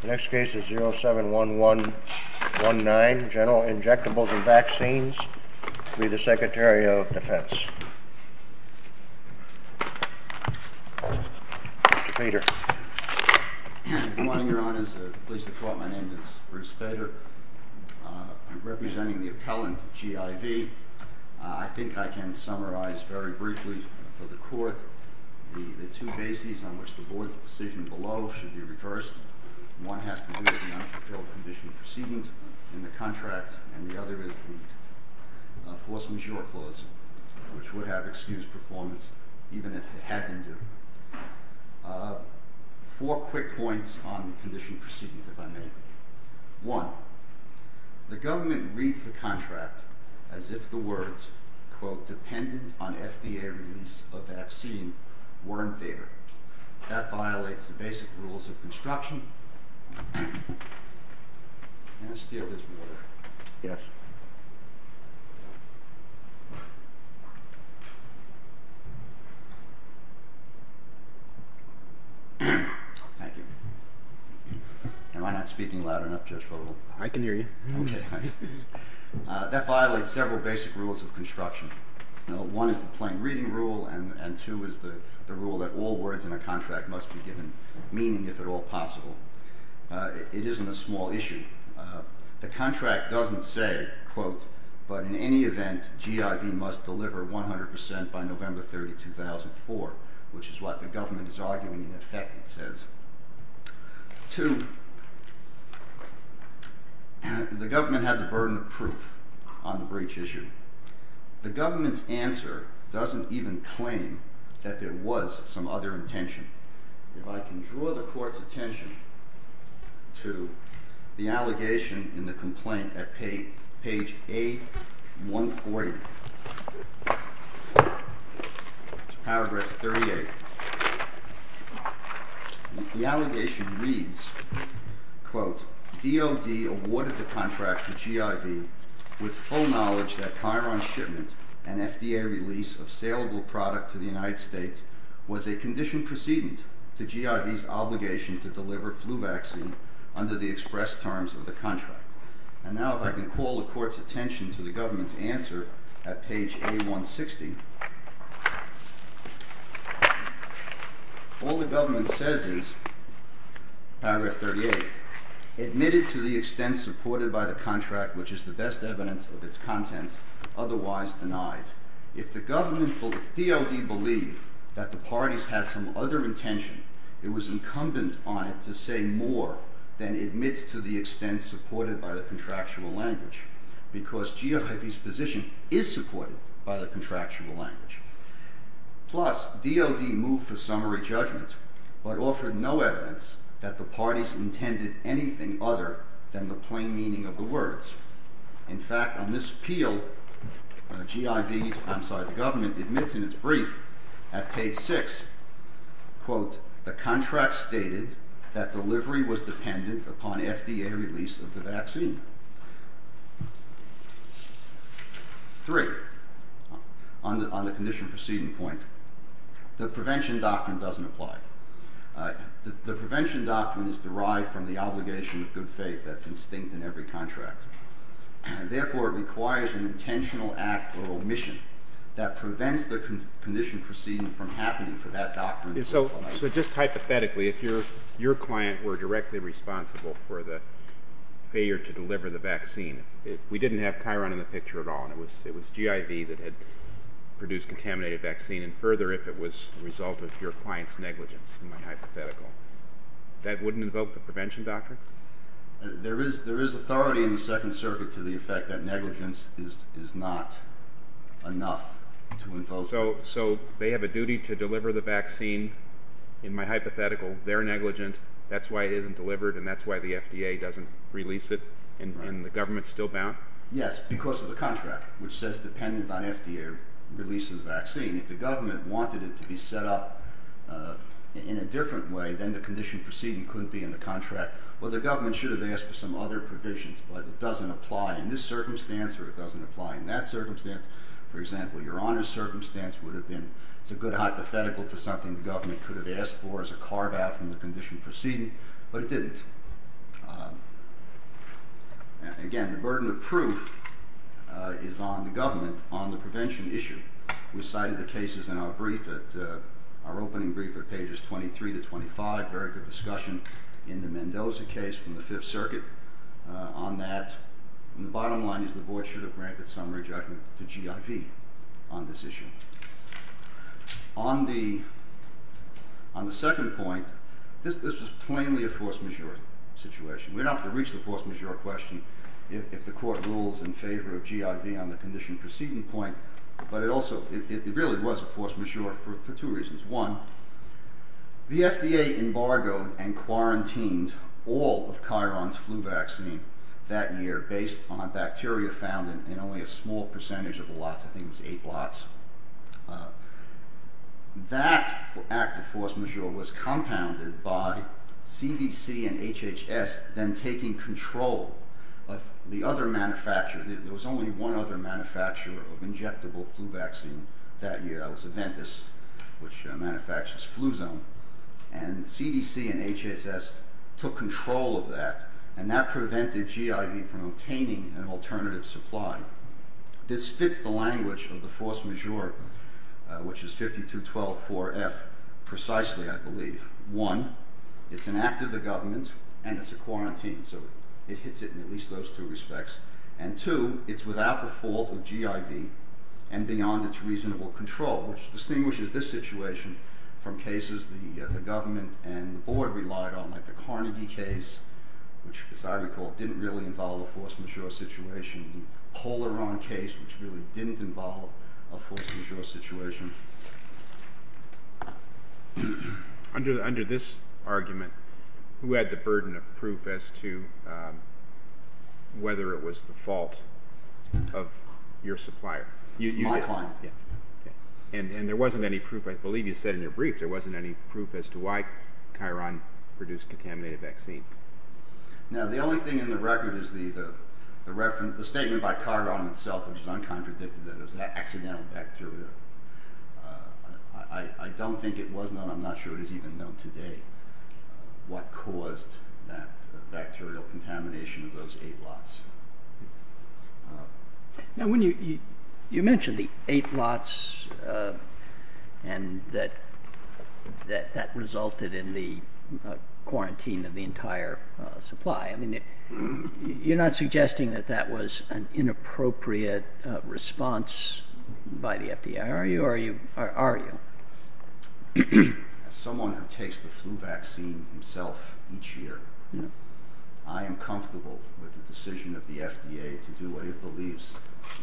The next case is 071119, General Injectables v. Vaccines v. the Secretary of Defense. Mr. Feder. Good morning, Your Honors. I'm pleased to report my name is Bruce Feder. I'm representing the appellant, G.I.V. I think I can summarize very briefly for the Court the two bases on which the Board's decision below should be reversed. One has to do with the unfulfilled condition preceded in the contract, and the other is the enforcement short clause, which would have excused performance even if it had been due. Four quick points on the condition preceded, if I may. Quote, dependent on FDA release of vaccine weren't there. That violates the basic rules of construction. May I steal this water? Yes. Thank you. Am I not speaking loud enough, Judge Fogel? I can hear you. Okay, nice. That violates several basic rules of construction. One is the plain reading rule, and two is the rule that all words in a contract must be given meaning, if at all possible. It isn't a small issue. The contract doesn't say, quote, but in any event, G.I.V. must deliver 100% by November 30, 2004, which is what the government is arguing in effect it says. Two, the government had the burden of proof on the breach issue. The government's answer doesn't even claim that there was some other intention. If I can draw the court's attention to the allegation in the complaint at page A140, paragraph 38, the allegation reads, quote, D.O.D. awarded the contract to G.I.V. with full knowledge that Chiron's shipment and FDA release of saleable product to the United States was a condition precedent to G.I.V.'s obligation to deliver flu vaccine under the express terms of the contract. And now if I can call the court's attention to the government's answer, at page A160, all the government says is, paragraph 38, admitted to the extent supported by the contract, which is the best evidence of its contents, otherwise denied. If the government, if D.O.D. believed that the parties had some other intention, it was incumbent on it to say more than admits to the extent supported by the contractual language, because G.I.V.'s position is supported by the contractual language. Plus, D.O.D. moved for summary judgment, but offered no evidence that the parties intended anything other than the plain meaning of the words. In fact, on this appeal, G.I.V., I'm sorry, the government, admits in its brief at page 6, quote, the contract stated that delivery was dependent upon FDA release of the vaccine. Three, on the condition proceeding point, the prevention doctrine doesn't apply. The prevention doctrine is derived from the obligation of good faith that's instinct in every contract. Therefore, it requires an intentional act or omission that prevents the condition proceeding from happening for that doctrine to apply. So just hypothetically, if your client were directly responsible for the failure to deliver the vaccine, if we didn't have Chiron in the picture at all, and it was G.I.V. that had produced contaminated vaccine, and further, if it was a result of your client's negligence, in my hypothetical, that wouldn't invoke the prevention doctrine? There is authority in the Second Circuit to the effect that negligence is not enough to invoke. So they have a duty to deliver the vaccine, in my hypothetical, they're negligent, that's why it isn't delivered, and that's why the FDA doesn't release it, and the government's still bound? Yes, because of the contract, which says dependent on FDA release of the vaccine. If the government wanted it to be set up in a different way, then the condition proceeding couldn't be in the contract. Well, the government should have asked for some other provisions, but it doesn't apply in this circumstance, or it doesn't apply in that circumstance. For example, your honor's circumstance would have been, it's a good hypothetical for something the government could have asked for as a carve-out from the condition proceeding, but it didn't. Again, the burden of proof is on the government, on the prevention issue. We cited the cases in our brief, our opening brief at pages 23 to 25, very good discussion in the Mendoza case from the Fifth Circuit on that, and the bottom line is the board should have granted some rejectment to GIV on this issue. On the second point, this was plainly a force majeure situation. We don't have to reach the force majeure question if the court rules in favor of GIV on the condition proceeding point, but it also, it really was a force majeure for two reasons. One, the FDA embargoed and quarantined all of Chiron's flu vaccine that year based on bacteria found in only a small percentage of the lots, I think it was eight lots. That act of force majeure was compounded by CDC and HHS then taking control of the other manufacturer. There was only one other manufacturer of injectable flu vaccine that year. That was Aventis, which manufactures Fluzone, and CDC and HHS took control of that, and that prevented GIV from obtaining an alternative supply. Now, this fits the language of the force majeure, which is 5212.4F precisely, I believe. One, it's an act of the government, and it's a quarantine, so it hits it in at least those two respects, and two, it's without the fault of GIV and beyond its reasonable control, which distinguishes this situation from cases the government and the board relied on, like the Carnegie case, which as I recall didn't really involve a force majeure situation. It was a full Iran case, which really didn't involve a force majeure situation. Under this argument, who had the burden of proof as to whether it was the fault of your supplier? My client. And there wasn't any proof. I believe you said in your brief there wasn't any proof as to why Chiron produced contaminated vaccine. Now, the only thing in the record is the statement by Chiron itself, which is uncontradicted, that it was that accidental bacteria. I don't think it was, and I'm not sure it is even known today, what caused that bacterial contamination of those eight lots. Now, you mentioned the eight lots and that that resulted in the quarantine of the entire supply. I mean, you're not suggesting that that was an inappropriate response by the FDA, are you? As someone who takes the flu vaccine himself each year, I am comfortable with the decision of the FDA to do what it believes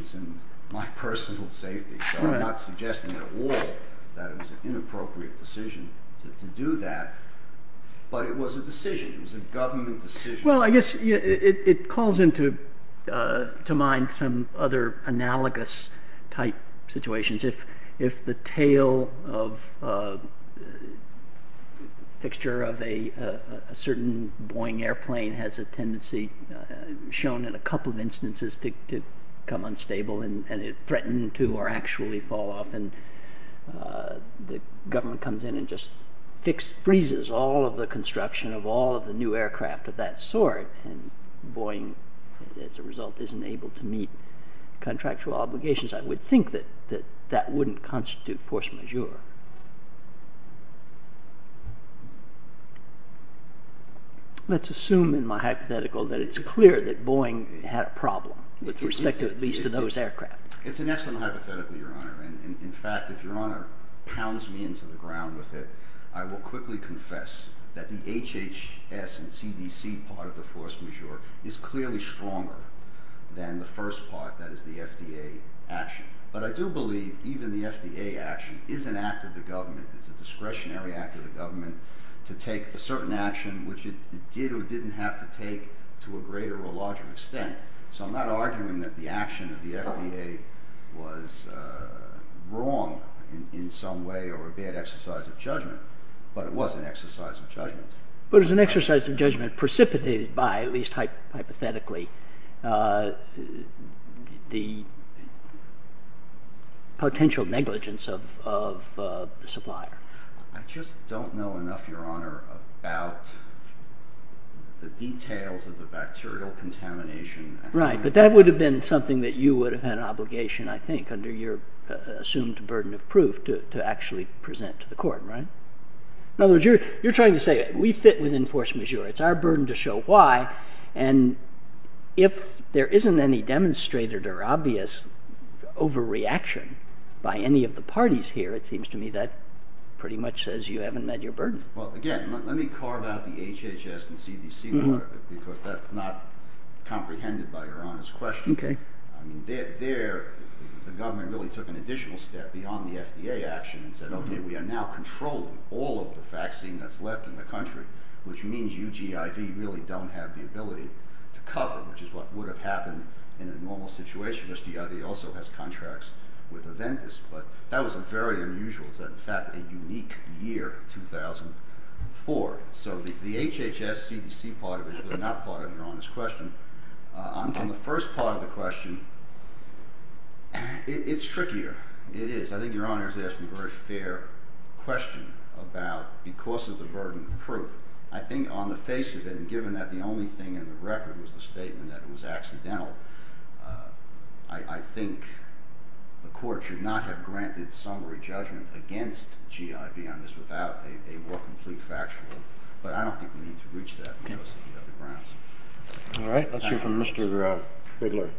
is in my personal safety. So I'm not suggesting at all that it was an inappropriate decision to do that, but it was a decision. It was a government decision. Well, I guess it calls into mind some other analogous type situations. If the tail fixture of a certain Boeing airplane has a tendency, shown in a couple of instances, to become unstable and threaten to or actually fall off, and the government comes in and just freezes all of the construction of the new aircraft of that sort, and Boeing, as a result, isn't able to meet contractual obligations, I would think that that wouldn't constitute force majeure. Let's assume in my hypothetical that it's clear that Boeing had a problem with respect to at least those aircraft. It's an excellent hypothetical, Your Honor. In fact, if Your Honor pounds me into the ground with it, I will quickly confess that the HHS and CDC part of the force majeure is clearly stronger than the first part, that is, the FDA action. But I do believe even the FDA action is an act of the government. It's a discretionary act of the government to take a certain action, which it did or didn't have to take to a greater or larger extent. So I'm not arguing that the action of the FDA was wrong in some way or a bad exercise of judgment, but it was an exercise of judgment. But it was an exercise of judgment precipitated by, at least hypothetically, the potential negligence of the supplier. I just don't know enough, Your Honor, about the details of the bacterial contamination. Right, but that would have been something that you would have had an obligation, I think, under your assumed burden of proof to actually present to the court, right? In other words, you're trying to say we fit within force majeure. It's our burden to show why. And if there isn't any demonstrated or obvious overreaction by any of the parties here, it seems to me that pretty much says you haven't met your burden. Well, again, let me carve out the HHS and CDC part of it, because that's not comprehended by Your Honor's question. There, the government really took an additional step beyond the FDA action and said, okay, we are now controlling all of the vaccine that's left in the country, which means you, GIV, really don't have the ability to cover, which is what would have happened in a normal situation, unless GIV also has contracts with Aventis. But that was a very unusual, in fact, a unique year, 2004. So the HHS-CDC part of it is really not part of Your Honor's question. On the first part of the question, it's trickier. It is. It's a very unfair question about because of the burden of proof. I think on the face of it, and given that the only thing in the record was the statement that it was accidental, I think the court should not have granted summary judgment against GIV on this without a more complete factual. But I don't think we need to reach that unless there are other grounds. All right. Let's hear from Mr. Bigler.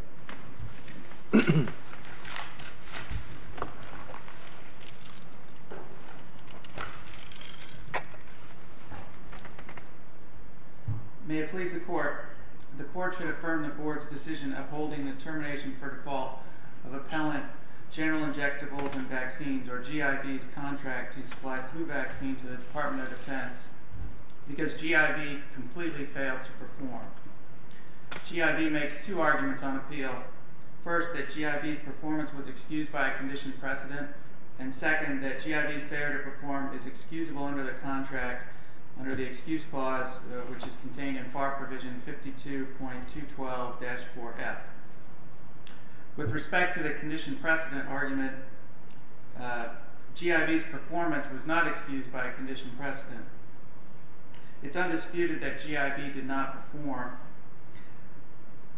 May it please the Court, the Court should affirm the Board's decision of holding the termination for default of appellant General Injectables and Vaccines, or GIV's contract to supply flu vaccine to the Department of Defense because GIV completely failed to perform. GIV makes two arguments on appeal. First, that GIV's performance And second, that GIV's performance was excused by a conditioned precedent. It's undisputed that GIV's failure to perform is excusable under the contract under the excuse clause which is contained in FAR Provision 52.212-4F. With respect to the conditioned precedent argument, GIV's performance was not excused by a conditioned precedent. It's undisputed that GIV did not perform.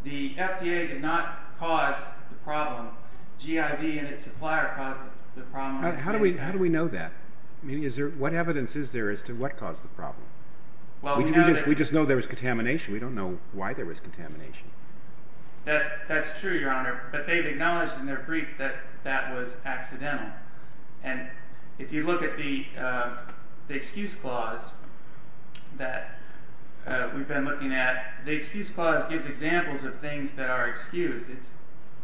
The FDA did not cause the problem. GIV and its supplier caused the problem. How do we know that? What evidence is there as to what caused the problem? We just know there was contamination. We don't know why there was contamination. That's true, Your Honor. But they've acknowledged in their brief that that was accidental. And if you look at the excuse clause that we've been looking at, the excuse clause gives examples of things that are excused.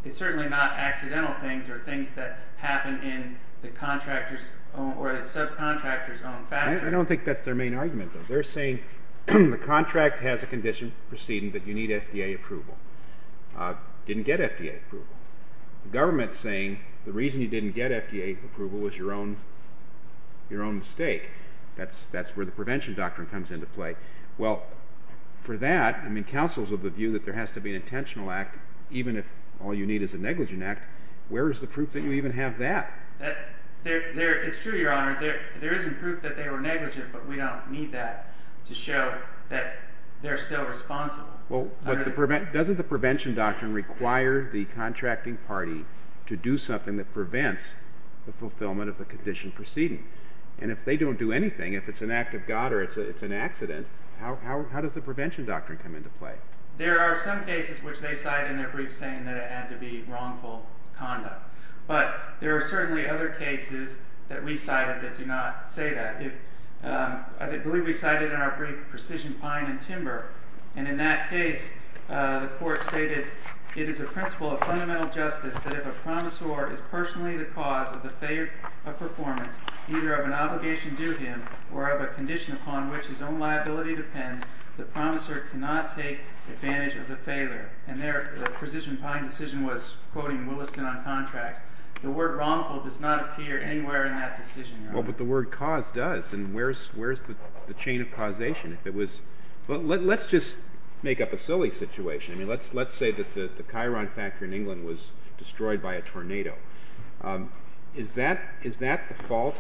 It's certainly not accidental things or things that happen in the contractor's own or the subcontractor's own factory. I don't think that's their main argument, though. They're saying the contract has a conditioned precedent that you need FDA approval. Didn't get FDA approval. The government's saying the reason you didn't get FDA approval was your own mistake. That's where the prevention doctrine comes into play. Well, for that, counsels of the view that there has to be an intentional act even if all you need is a negligent act, where is the proof that you even have that? It's true, Your Honor. There isn't proof that they were negligent, but we don't need that to show that they're still responsible. Doesn't the prevention doctrine require the contracting party to do something that prevents the fulfillment of the conditioned precedent? And if they don't do anything, if it's an act of God or it's an accident, how does the prevention doctrine come into play? There are some cases where they're saying that it had to be wrongful conduct. But there are certainly other cases that we cited that do not say that. I believe we cited it in our brief Precision Pine and Timber. And in that case, the court stated, it is a principle of fundamental justice that if a promisor is personally the cause of the failure of performance, either of an obligation due him or of a condition upon which his own liability depends, the promisor cannot take advantage of the failure. The Precision Pine decision was quoting Williston on contracts. The word wrongful does not appear anywhere in that decision, Your Honor. Well, but the word cause does. And where's the chain of causation? Let's just make up a silly situation. Let's say that the Chiron factory in England was destroyed by a tornado. Is that fault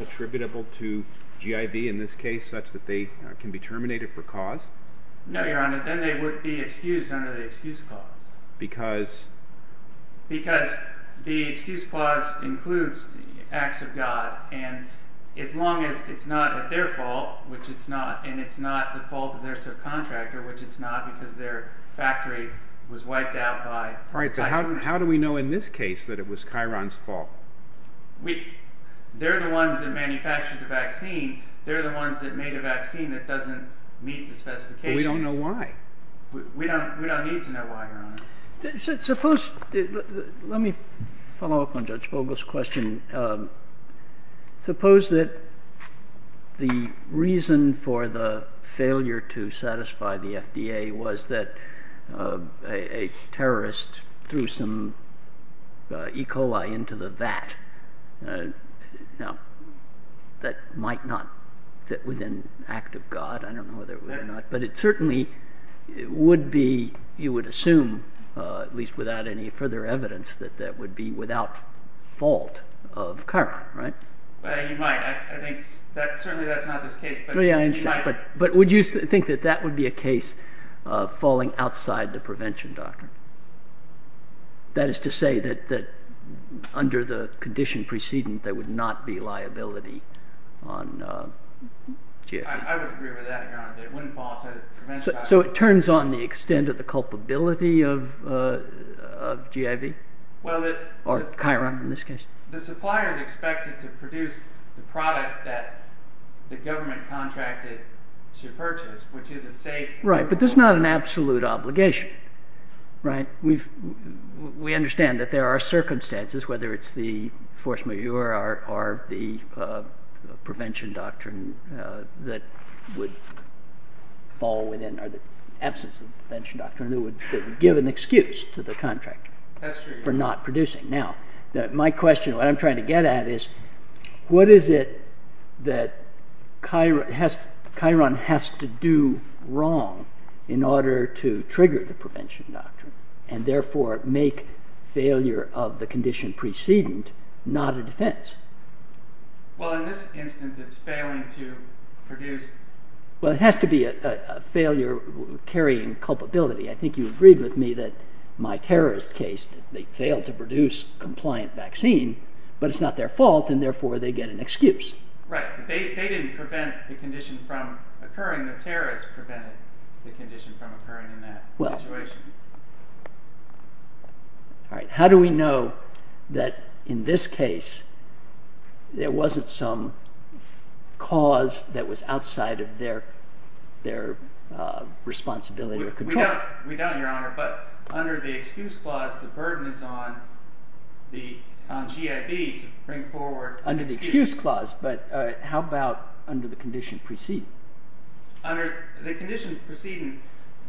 attributable to G.I.B. in this case, such that they can be terminated for cause? No, Your Honor. Because? Because the excuse clause includes the acts of God. And as long as it's not at their fault, which it's not, and it's not the fault of their subcontractor, which it's not because their factory was wiped out by a tornado. All right, so how do we know in this case that it was Chiron's fault? They're the ones that manufactured the vaccine. They're the ones that made a vaccine that doesn't meet the specifications. But we don't know why. We don't need to know why, Your Honor. Suppose, let me follow up on Judge Vogel's question. Suppose that the reason for the failure to satisfy the FDA was that a terrorist threw some E. coli into the vat. Now, that might not fit within the act of God. I don't know whether it would or not. It would be, you would assume, at least without any further evidence, that that would be without fault of Chiron, right? You might. Certainly that's not this case. But would you think that that would be a case of falling outside the prevention doctrine? That is to say that under the condition preceding there would not be liability on GFD? I would agree with that, Your Honor. That it wouldn't fall outside the prevention doctrine. So it turns on the extent of the culpability of GFD? Or Chiron in this case? The supplier is expected to produce the product that the government contracted to purchase, which is a safe... Right, but that's not an absolute obligation, right? We understand that there are circumstances, whether it's the force majeure or the prevention doctrine that would fall within, or the absence of the prevention doctrine, that would give an excuse to the contractor for not producing. Now, my question, what I'm trying to get at is what is it that Chiron has to do wrong in order to trigger the prevention doctrine and therefore make failure of the condition preceding not a defense? Well, in this instance, it's failing to produce... Well, it has to be a failure carrying culpability. I think you agreed with me that in my terrorist case, they failed to produce a compliant vaccine, but it's not their fault, and therefore they get an excuse. Right. They didn't prevent the condition from occurring. The terrorists prevented the condition from occurring in that situation. How do we know that in this case there wasn't some cause that was outside of their responsibility or control? We don't, Your Honor, but under the excuse clause, the burden is on the G.I.B. to bring forward an excuse. Under the excuse clause, but how about under the condition preceding? Under the condition preceding,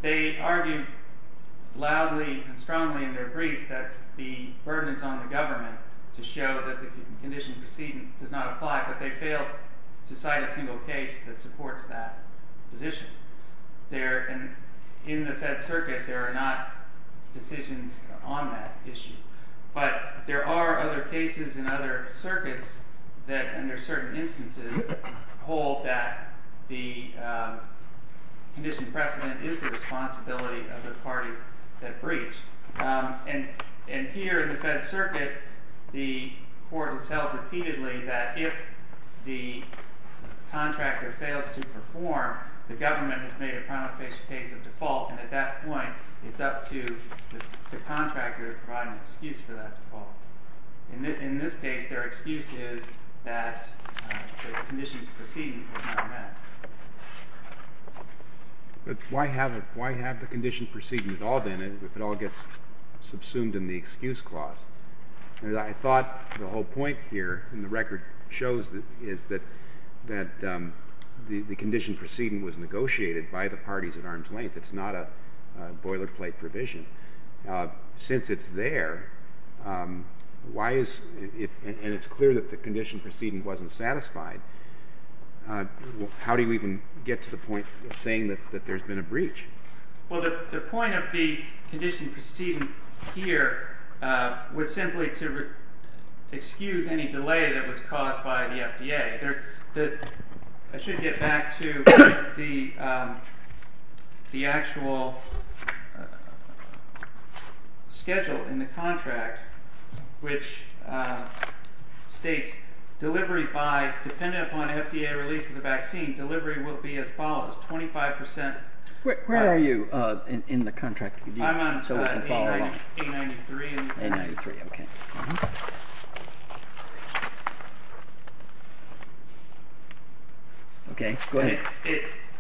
they argue loudly and strongly in their brief that the burden is on the government to show that the condition preceding does not apply, but they fail to cite a single case that supports that position. In the Fed Circuit, there are not decisions on that issue, but there are other cases in other circuits that under certain instances hold that the condition precedent is the responsibility of the party that breached. And here in the Fed Circuit, the court has held repeatedly that if the contractor fails to perform, the government has made a prima facie case of default, and at that point, it's up to the contractor to provide an excuse for that default. In this case, their excuse is that the condition preceding was not met. But why have the condition preceding at all, then, if it all gets subsumed in the excuse clause? I thought the whole point here in the record shows that the condition preceding was negotiated by the parties at arm's length. It's not a boilerplate provision. Since it's there, and it's clear that the condition preceding wasn't satisfied, how do you even get to the point of saying that there's been a breach? Well, the point of the condition preceding here was simply to excuse any delay that was caused by the FDA. I should get back to the actual schedule in the contract, which states, depending upon FDA release of the vaccine, delivery will be as follows. Twenty-five percent. Where are you in the contract? I'm on page 93. Page 93, okay. Okay, go ahead.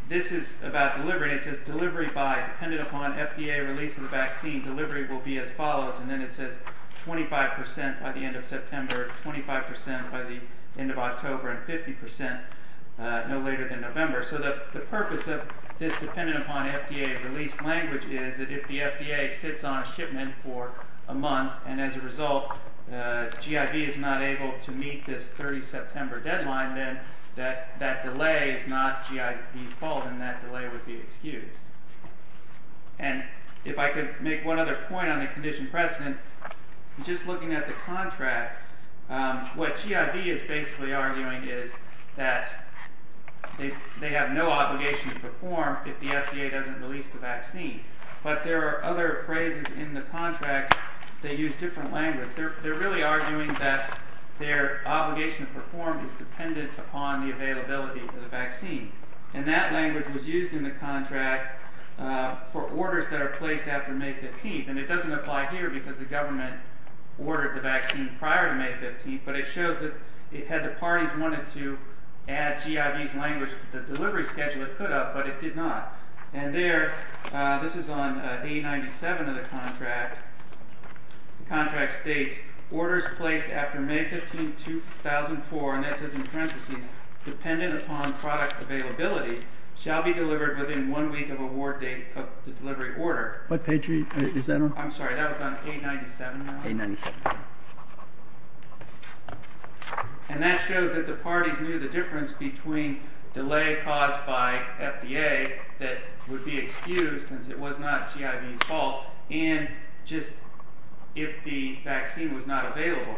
This is about delivery. It says, depending upon FDA release of the vaccine, delivery will be as follows. And then it says, twenty-five percent by the end of September, twenty-five percent by the end of October, and fifty percent no later than November. So the purpose of this dependent upon FDA release language is that if the FDA sits on a shipment for a month and as a result GIV is not able to meet this 30 September deadline, then that delay is not GIV's fault and that delay would be excused. And if I could make one other point on the condition precedent, just looking at the contract, what GIV is basically arguing is that they have no obligation to perform if the FDA doesn't release the vaccine. But there are other phrases in the contract that they use different language. They're really arguing that their obligation to perform is dependent upon the availability of the vaccine. And that language was used in the contract for orders that are placed after May 15th. And it doesn't apply here because the government ordered the vaccine prior to May 15th, but it shows that if the parties wanted to add GIV's language to the delivery schedule, it could have, but it did not. And there, this is on A97 of the contract, the contract states, orders placed after May 15th, 2004, and that says in parentheses, dependent upon product availability, shall be delivered within one week of award date of the delivery order. What page is that on? I'm sorry, that was on A97. A97. And that shows that the parties knew the difference between delay caused by FDA that would be excused since it was not GIV's fault and just if the vaccine was not available.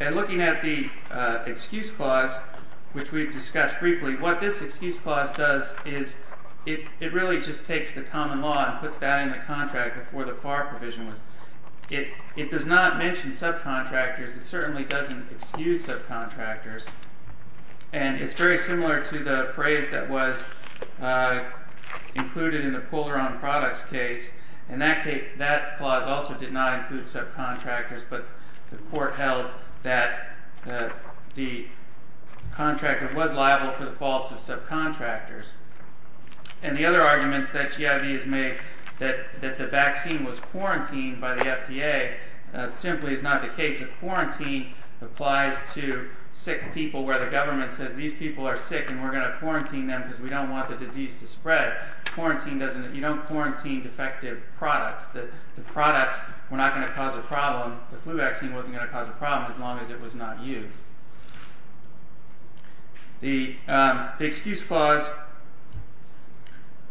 And looking at the excuse clause, which we've discussed briefly, what this excuse clause does is it really just takes the common law and puts that in the contract before the FAR provision was. It does not mention subcontractors. It certainly doesn't excuse subcontractors. And it's very similar to the phrase that was included in the Polaron Products case, and that clause also did not include subcontractors, but the court held that the contractor was liable for the faults of subcontractors. And the other arguments that GIV has made that the vaccine was quarantined by the FDA simply is not the case. A quarantine applies to sick people where the government says these people are sick and we're going to quarantine them because we don't want the disease to spread. You don't quarantine defective products. The products were not going to cause a problem. The flu vaccine wasn't going to cause a problem as long as it was not used. The excuse clause,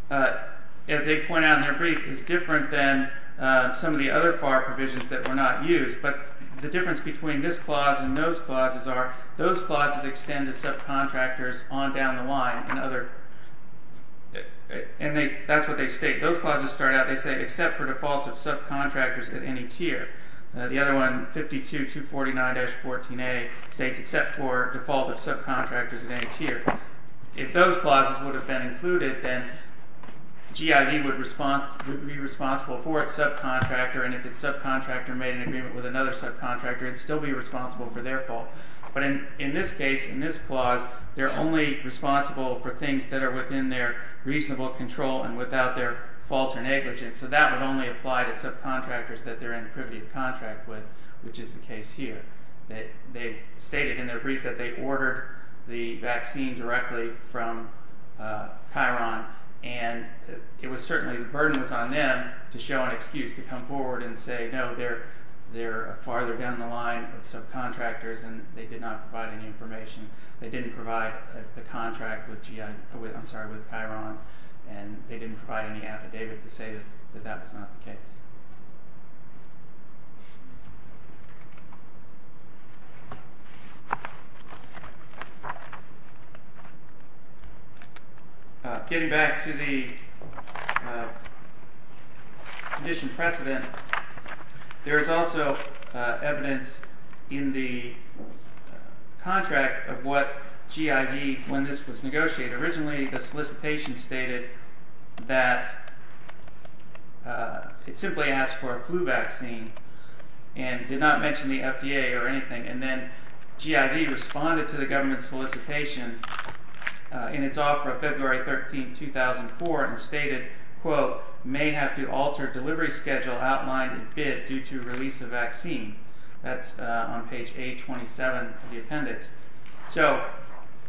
as they point out in their brief, is different than some of the other FAR provisions that were not used. But the difference between this clause and those clauses are those clauses extend to subcontractors on down the line. And that's what they state. Those clauses start out, they say, except for defaults of subcontractors at any tier. The other one, 52-249-14A, states except for default of subcontractors at any tier. If those clauses would have been included, then GIV would be responsible for its subcontractor, and if its subcontractor made an agreement with another subcontractor, it would still be responsible for their fault. But in this case, in this clause, they're only responsible for things that are within their reasonable control and without their fault or negligence. So that would only apply to subcontractors that they're in privy to contract with, which is the case here. They stated in their brief that they ordered the vaccine directly from Chiron. And it was certainly, the burden was on them to show an excuse and say, no, they're farther down the line of subcontractors, and they did not provide any information. They didn't provide the contract with Chiron, and they didn't provide any affidavit to say that that was not the case. Getting back to the condition precedent, there is also evidence in the contract of what GID, when this was negotiated, originally the solicitation stated that it simply asked for a flu vaccine and did not mention the FDA or anything. And then GID responded to the government solicitation in its offer of February 13, 2004, and stated, quote, may have to alter delivery schedule outlined in bid due to release of vaccine. That's on page 827 of the appendix. So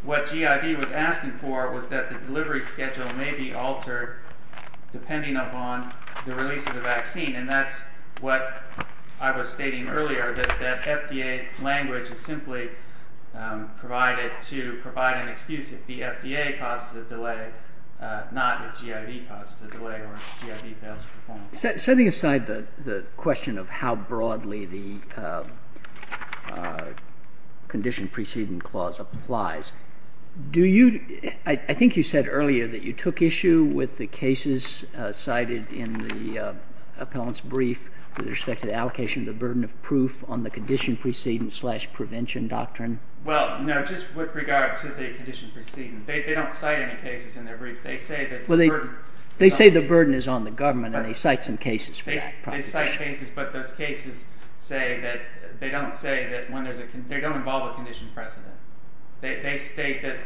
what GID was asking for was that the delivery schedule may be altered depending upon the release of the vaccine. And that's what I was stating earlier, that FDA language is simply provided to provide an excuse if the FDA causes a delay, not if GID causes a delay but if GID does perform a delay. Setting aside the question of how broadly the condition precedent clause applies, do you – I think you said earlier that you took issue with the cases cited in the appellant's brief with respect to the allocation of the burden of proof on the condition precedent slash prevention doctrine. Well, no, just with regard to the condition precedent, the burden is on the government and they cite some cases for that proposition. They cite cases, but those cases say that they don't involve a condition precedent. They state that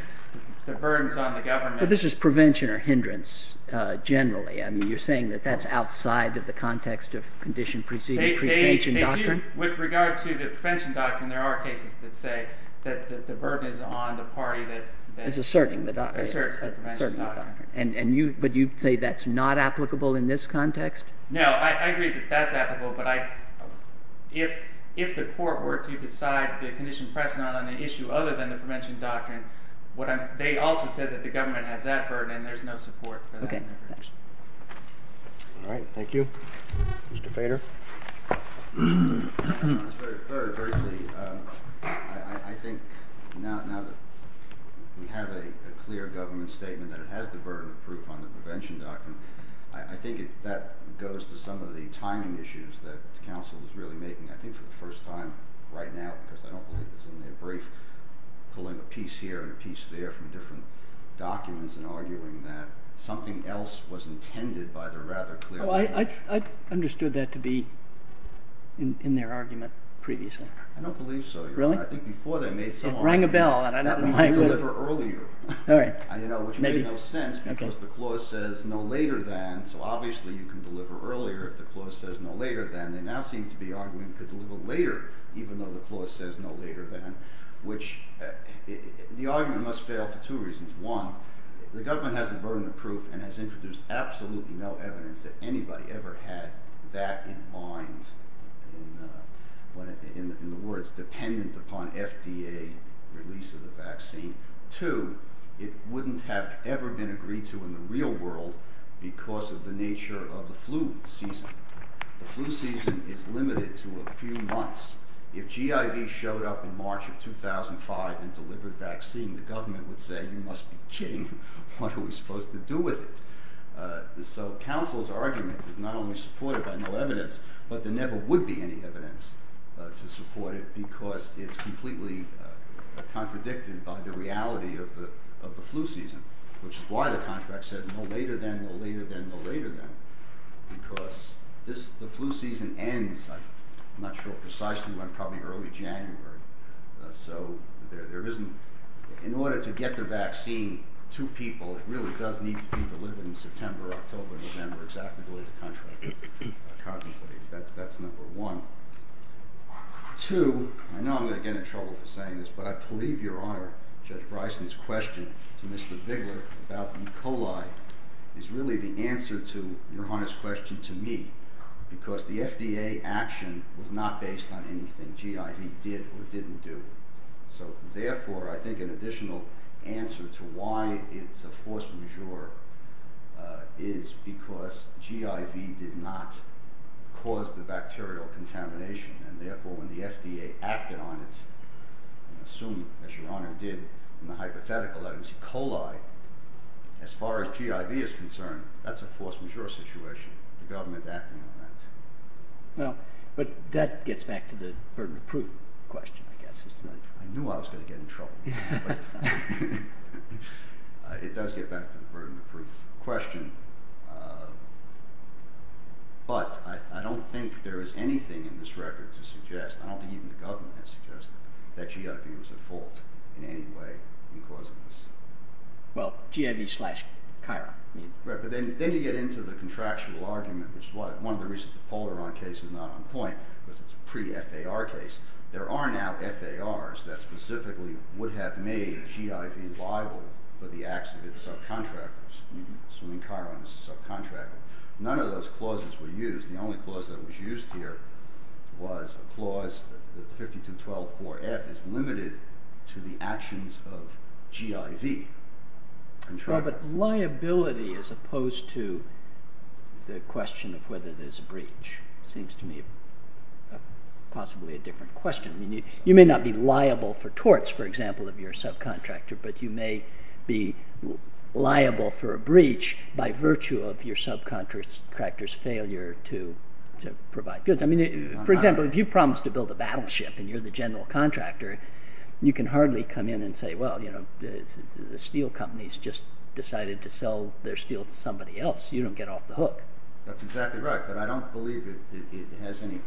the burden is on the government. But this is prevention or hindrance generally. I mean, you're saying that that's outside of the context of condition preceding prevention doctrine? They do. With regard to the prevention doctrine, there are cases that say that the burden is on the party that is applicable in this context? No, I agree that that's applicable, but if the court were to decide the condition precedent on the issue other than the prevention doctrine, they also said that the government has that burden and there's no support for that. Okay, thanks. All right, thank you. Mr. Bader? To be honest, very briefly, I think now that we have a clear government statement that it has the burden of proof on the prevention doctrine, I think that goes to some of the timing issues that counsel is really making. I think for the first time right now, because I don't believe it's in their brief, pulling a piece here and a piece there from different documents and arguing that something else was intended by the rather clear definition. I understood that to be in their argument previously. I don't believe so. Really? It rang a bell. That means deliver earlier, which made no sense because the clause says no later than, so obviously you can deliver earlier if the clause says no later than. They now seem to be arguing you could deliver later even though the clause says no later than, which the argument must fail for two reasons. One, the government has the burden of proof and has introduced absolutely no evidence that anybody ever had that in mind in the words dependent upon FDA releases. Two, it wouldn't have ever been agreed to in the real world because of the nature of the flu season. The flu season is limited to a few months. If GIV showed up in March of 2005 and delivered vaccine, the government would say, you must be kidding. What are we supposed to do with it? So counsel's argument is not only supported by no evidence, but there never would be any evidence to support it because it would be predicted by the reality of the flu season, which is why the contract says no later than, no later than, no later than because the flu season ends, I'm not sure precisely when, probably early January. So in order to get the vaccine to people, it really does need to be delivered in September, October, November exactly the way the contract contemplated. That's number one. Two, I know I'm going to get in trouble for saying this, but I believe your Honor, Judge Bryson's question to Mr. Bigler about E. coli is really the answer to your Honor's question to me because the FDA action was not based on anything GIV did or didn't do. So therefore, I think an additional answer to why it's a force majeure is because GIV did not cause the bacterial contamination and therefore when the FDA acted on it, I assume as your Honor did in the hypothetical items, E. coli, as far as GIV is concerned, that's a force majeure situation. The government acting on that. Well, but that gets back to the burden of proof question, I guess. I knew I was going to get in trouble. But it does get back to the burden of proof question. But I don't think there is anything in this record to suggest, I don't think even the government has suggested that GIV was at fault in any way in causing this. Well, GIV slash CHIRA. Right, but then you get into the contractual argument, which is one of the reasons the Polaron case is not on point because it's a pre-FAR case. There are now FARs that specifically would have made GIV liable for the acts of its subcontractors. I mean, CHIRA is a subcontractor. None of those clauses were used. The only clause that was used here was that the 52-12-4-F is limited to the actions of GIV. Well, but liability as opposed to the question of whether there's a breach seems to me possibly a different question. You may not be liable for torts, for example, of your subcontractor, but you may be liable for a breach by virtue of your subcontractor's failure to provide goods. I mean, for example, if you're the battleship and you're the general contractor, you can hardly come in and say, well, you know, the steel company's just decided to sell their steel to somebody else. You don't get off the hook. That's exactly right, but I don't believe it has any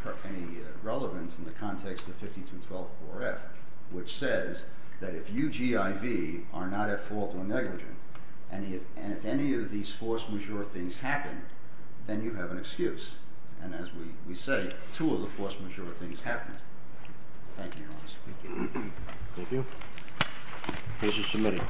relevance in the context of 52-12-4-F, which says that if you, GIV, are not at fault or negligent and if any of these force majeure things happen, then you have an excuse. Thank you, Your Honor. Thank you. Case is submitted.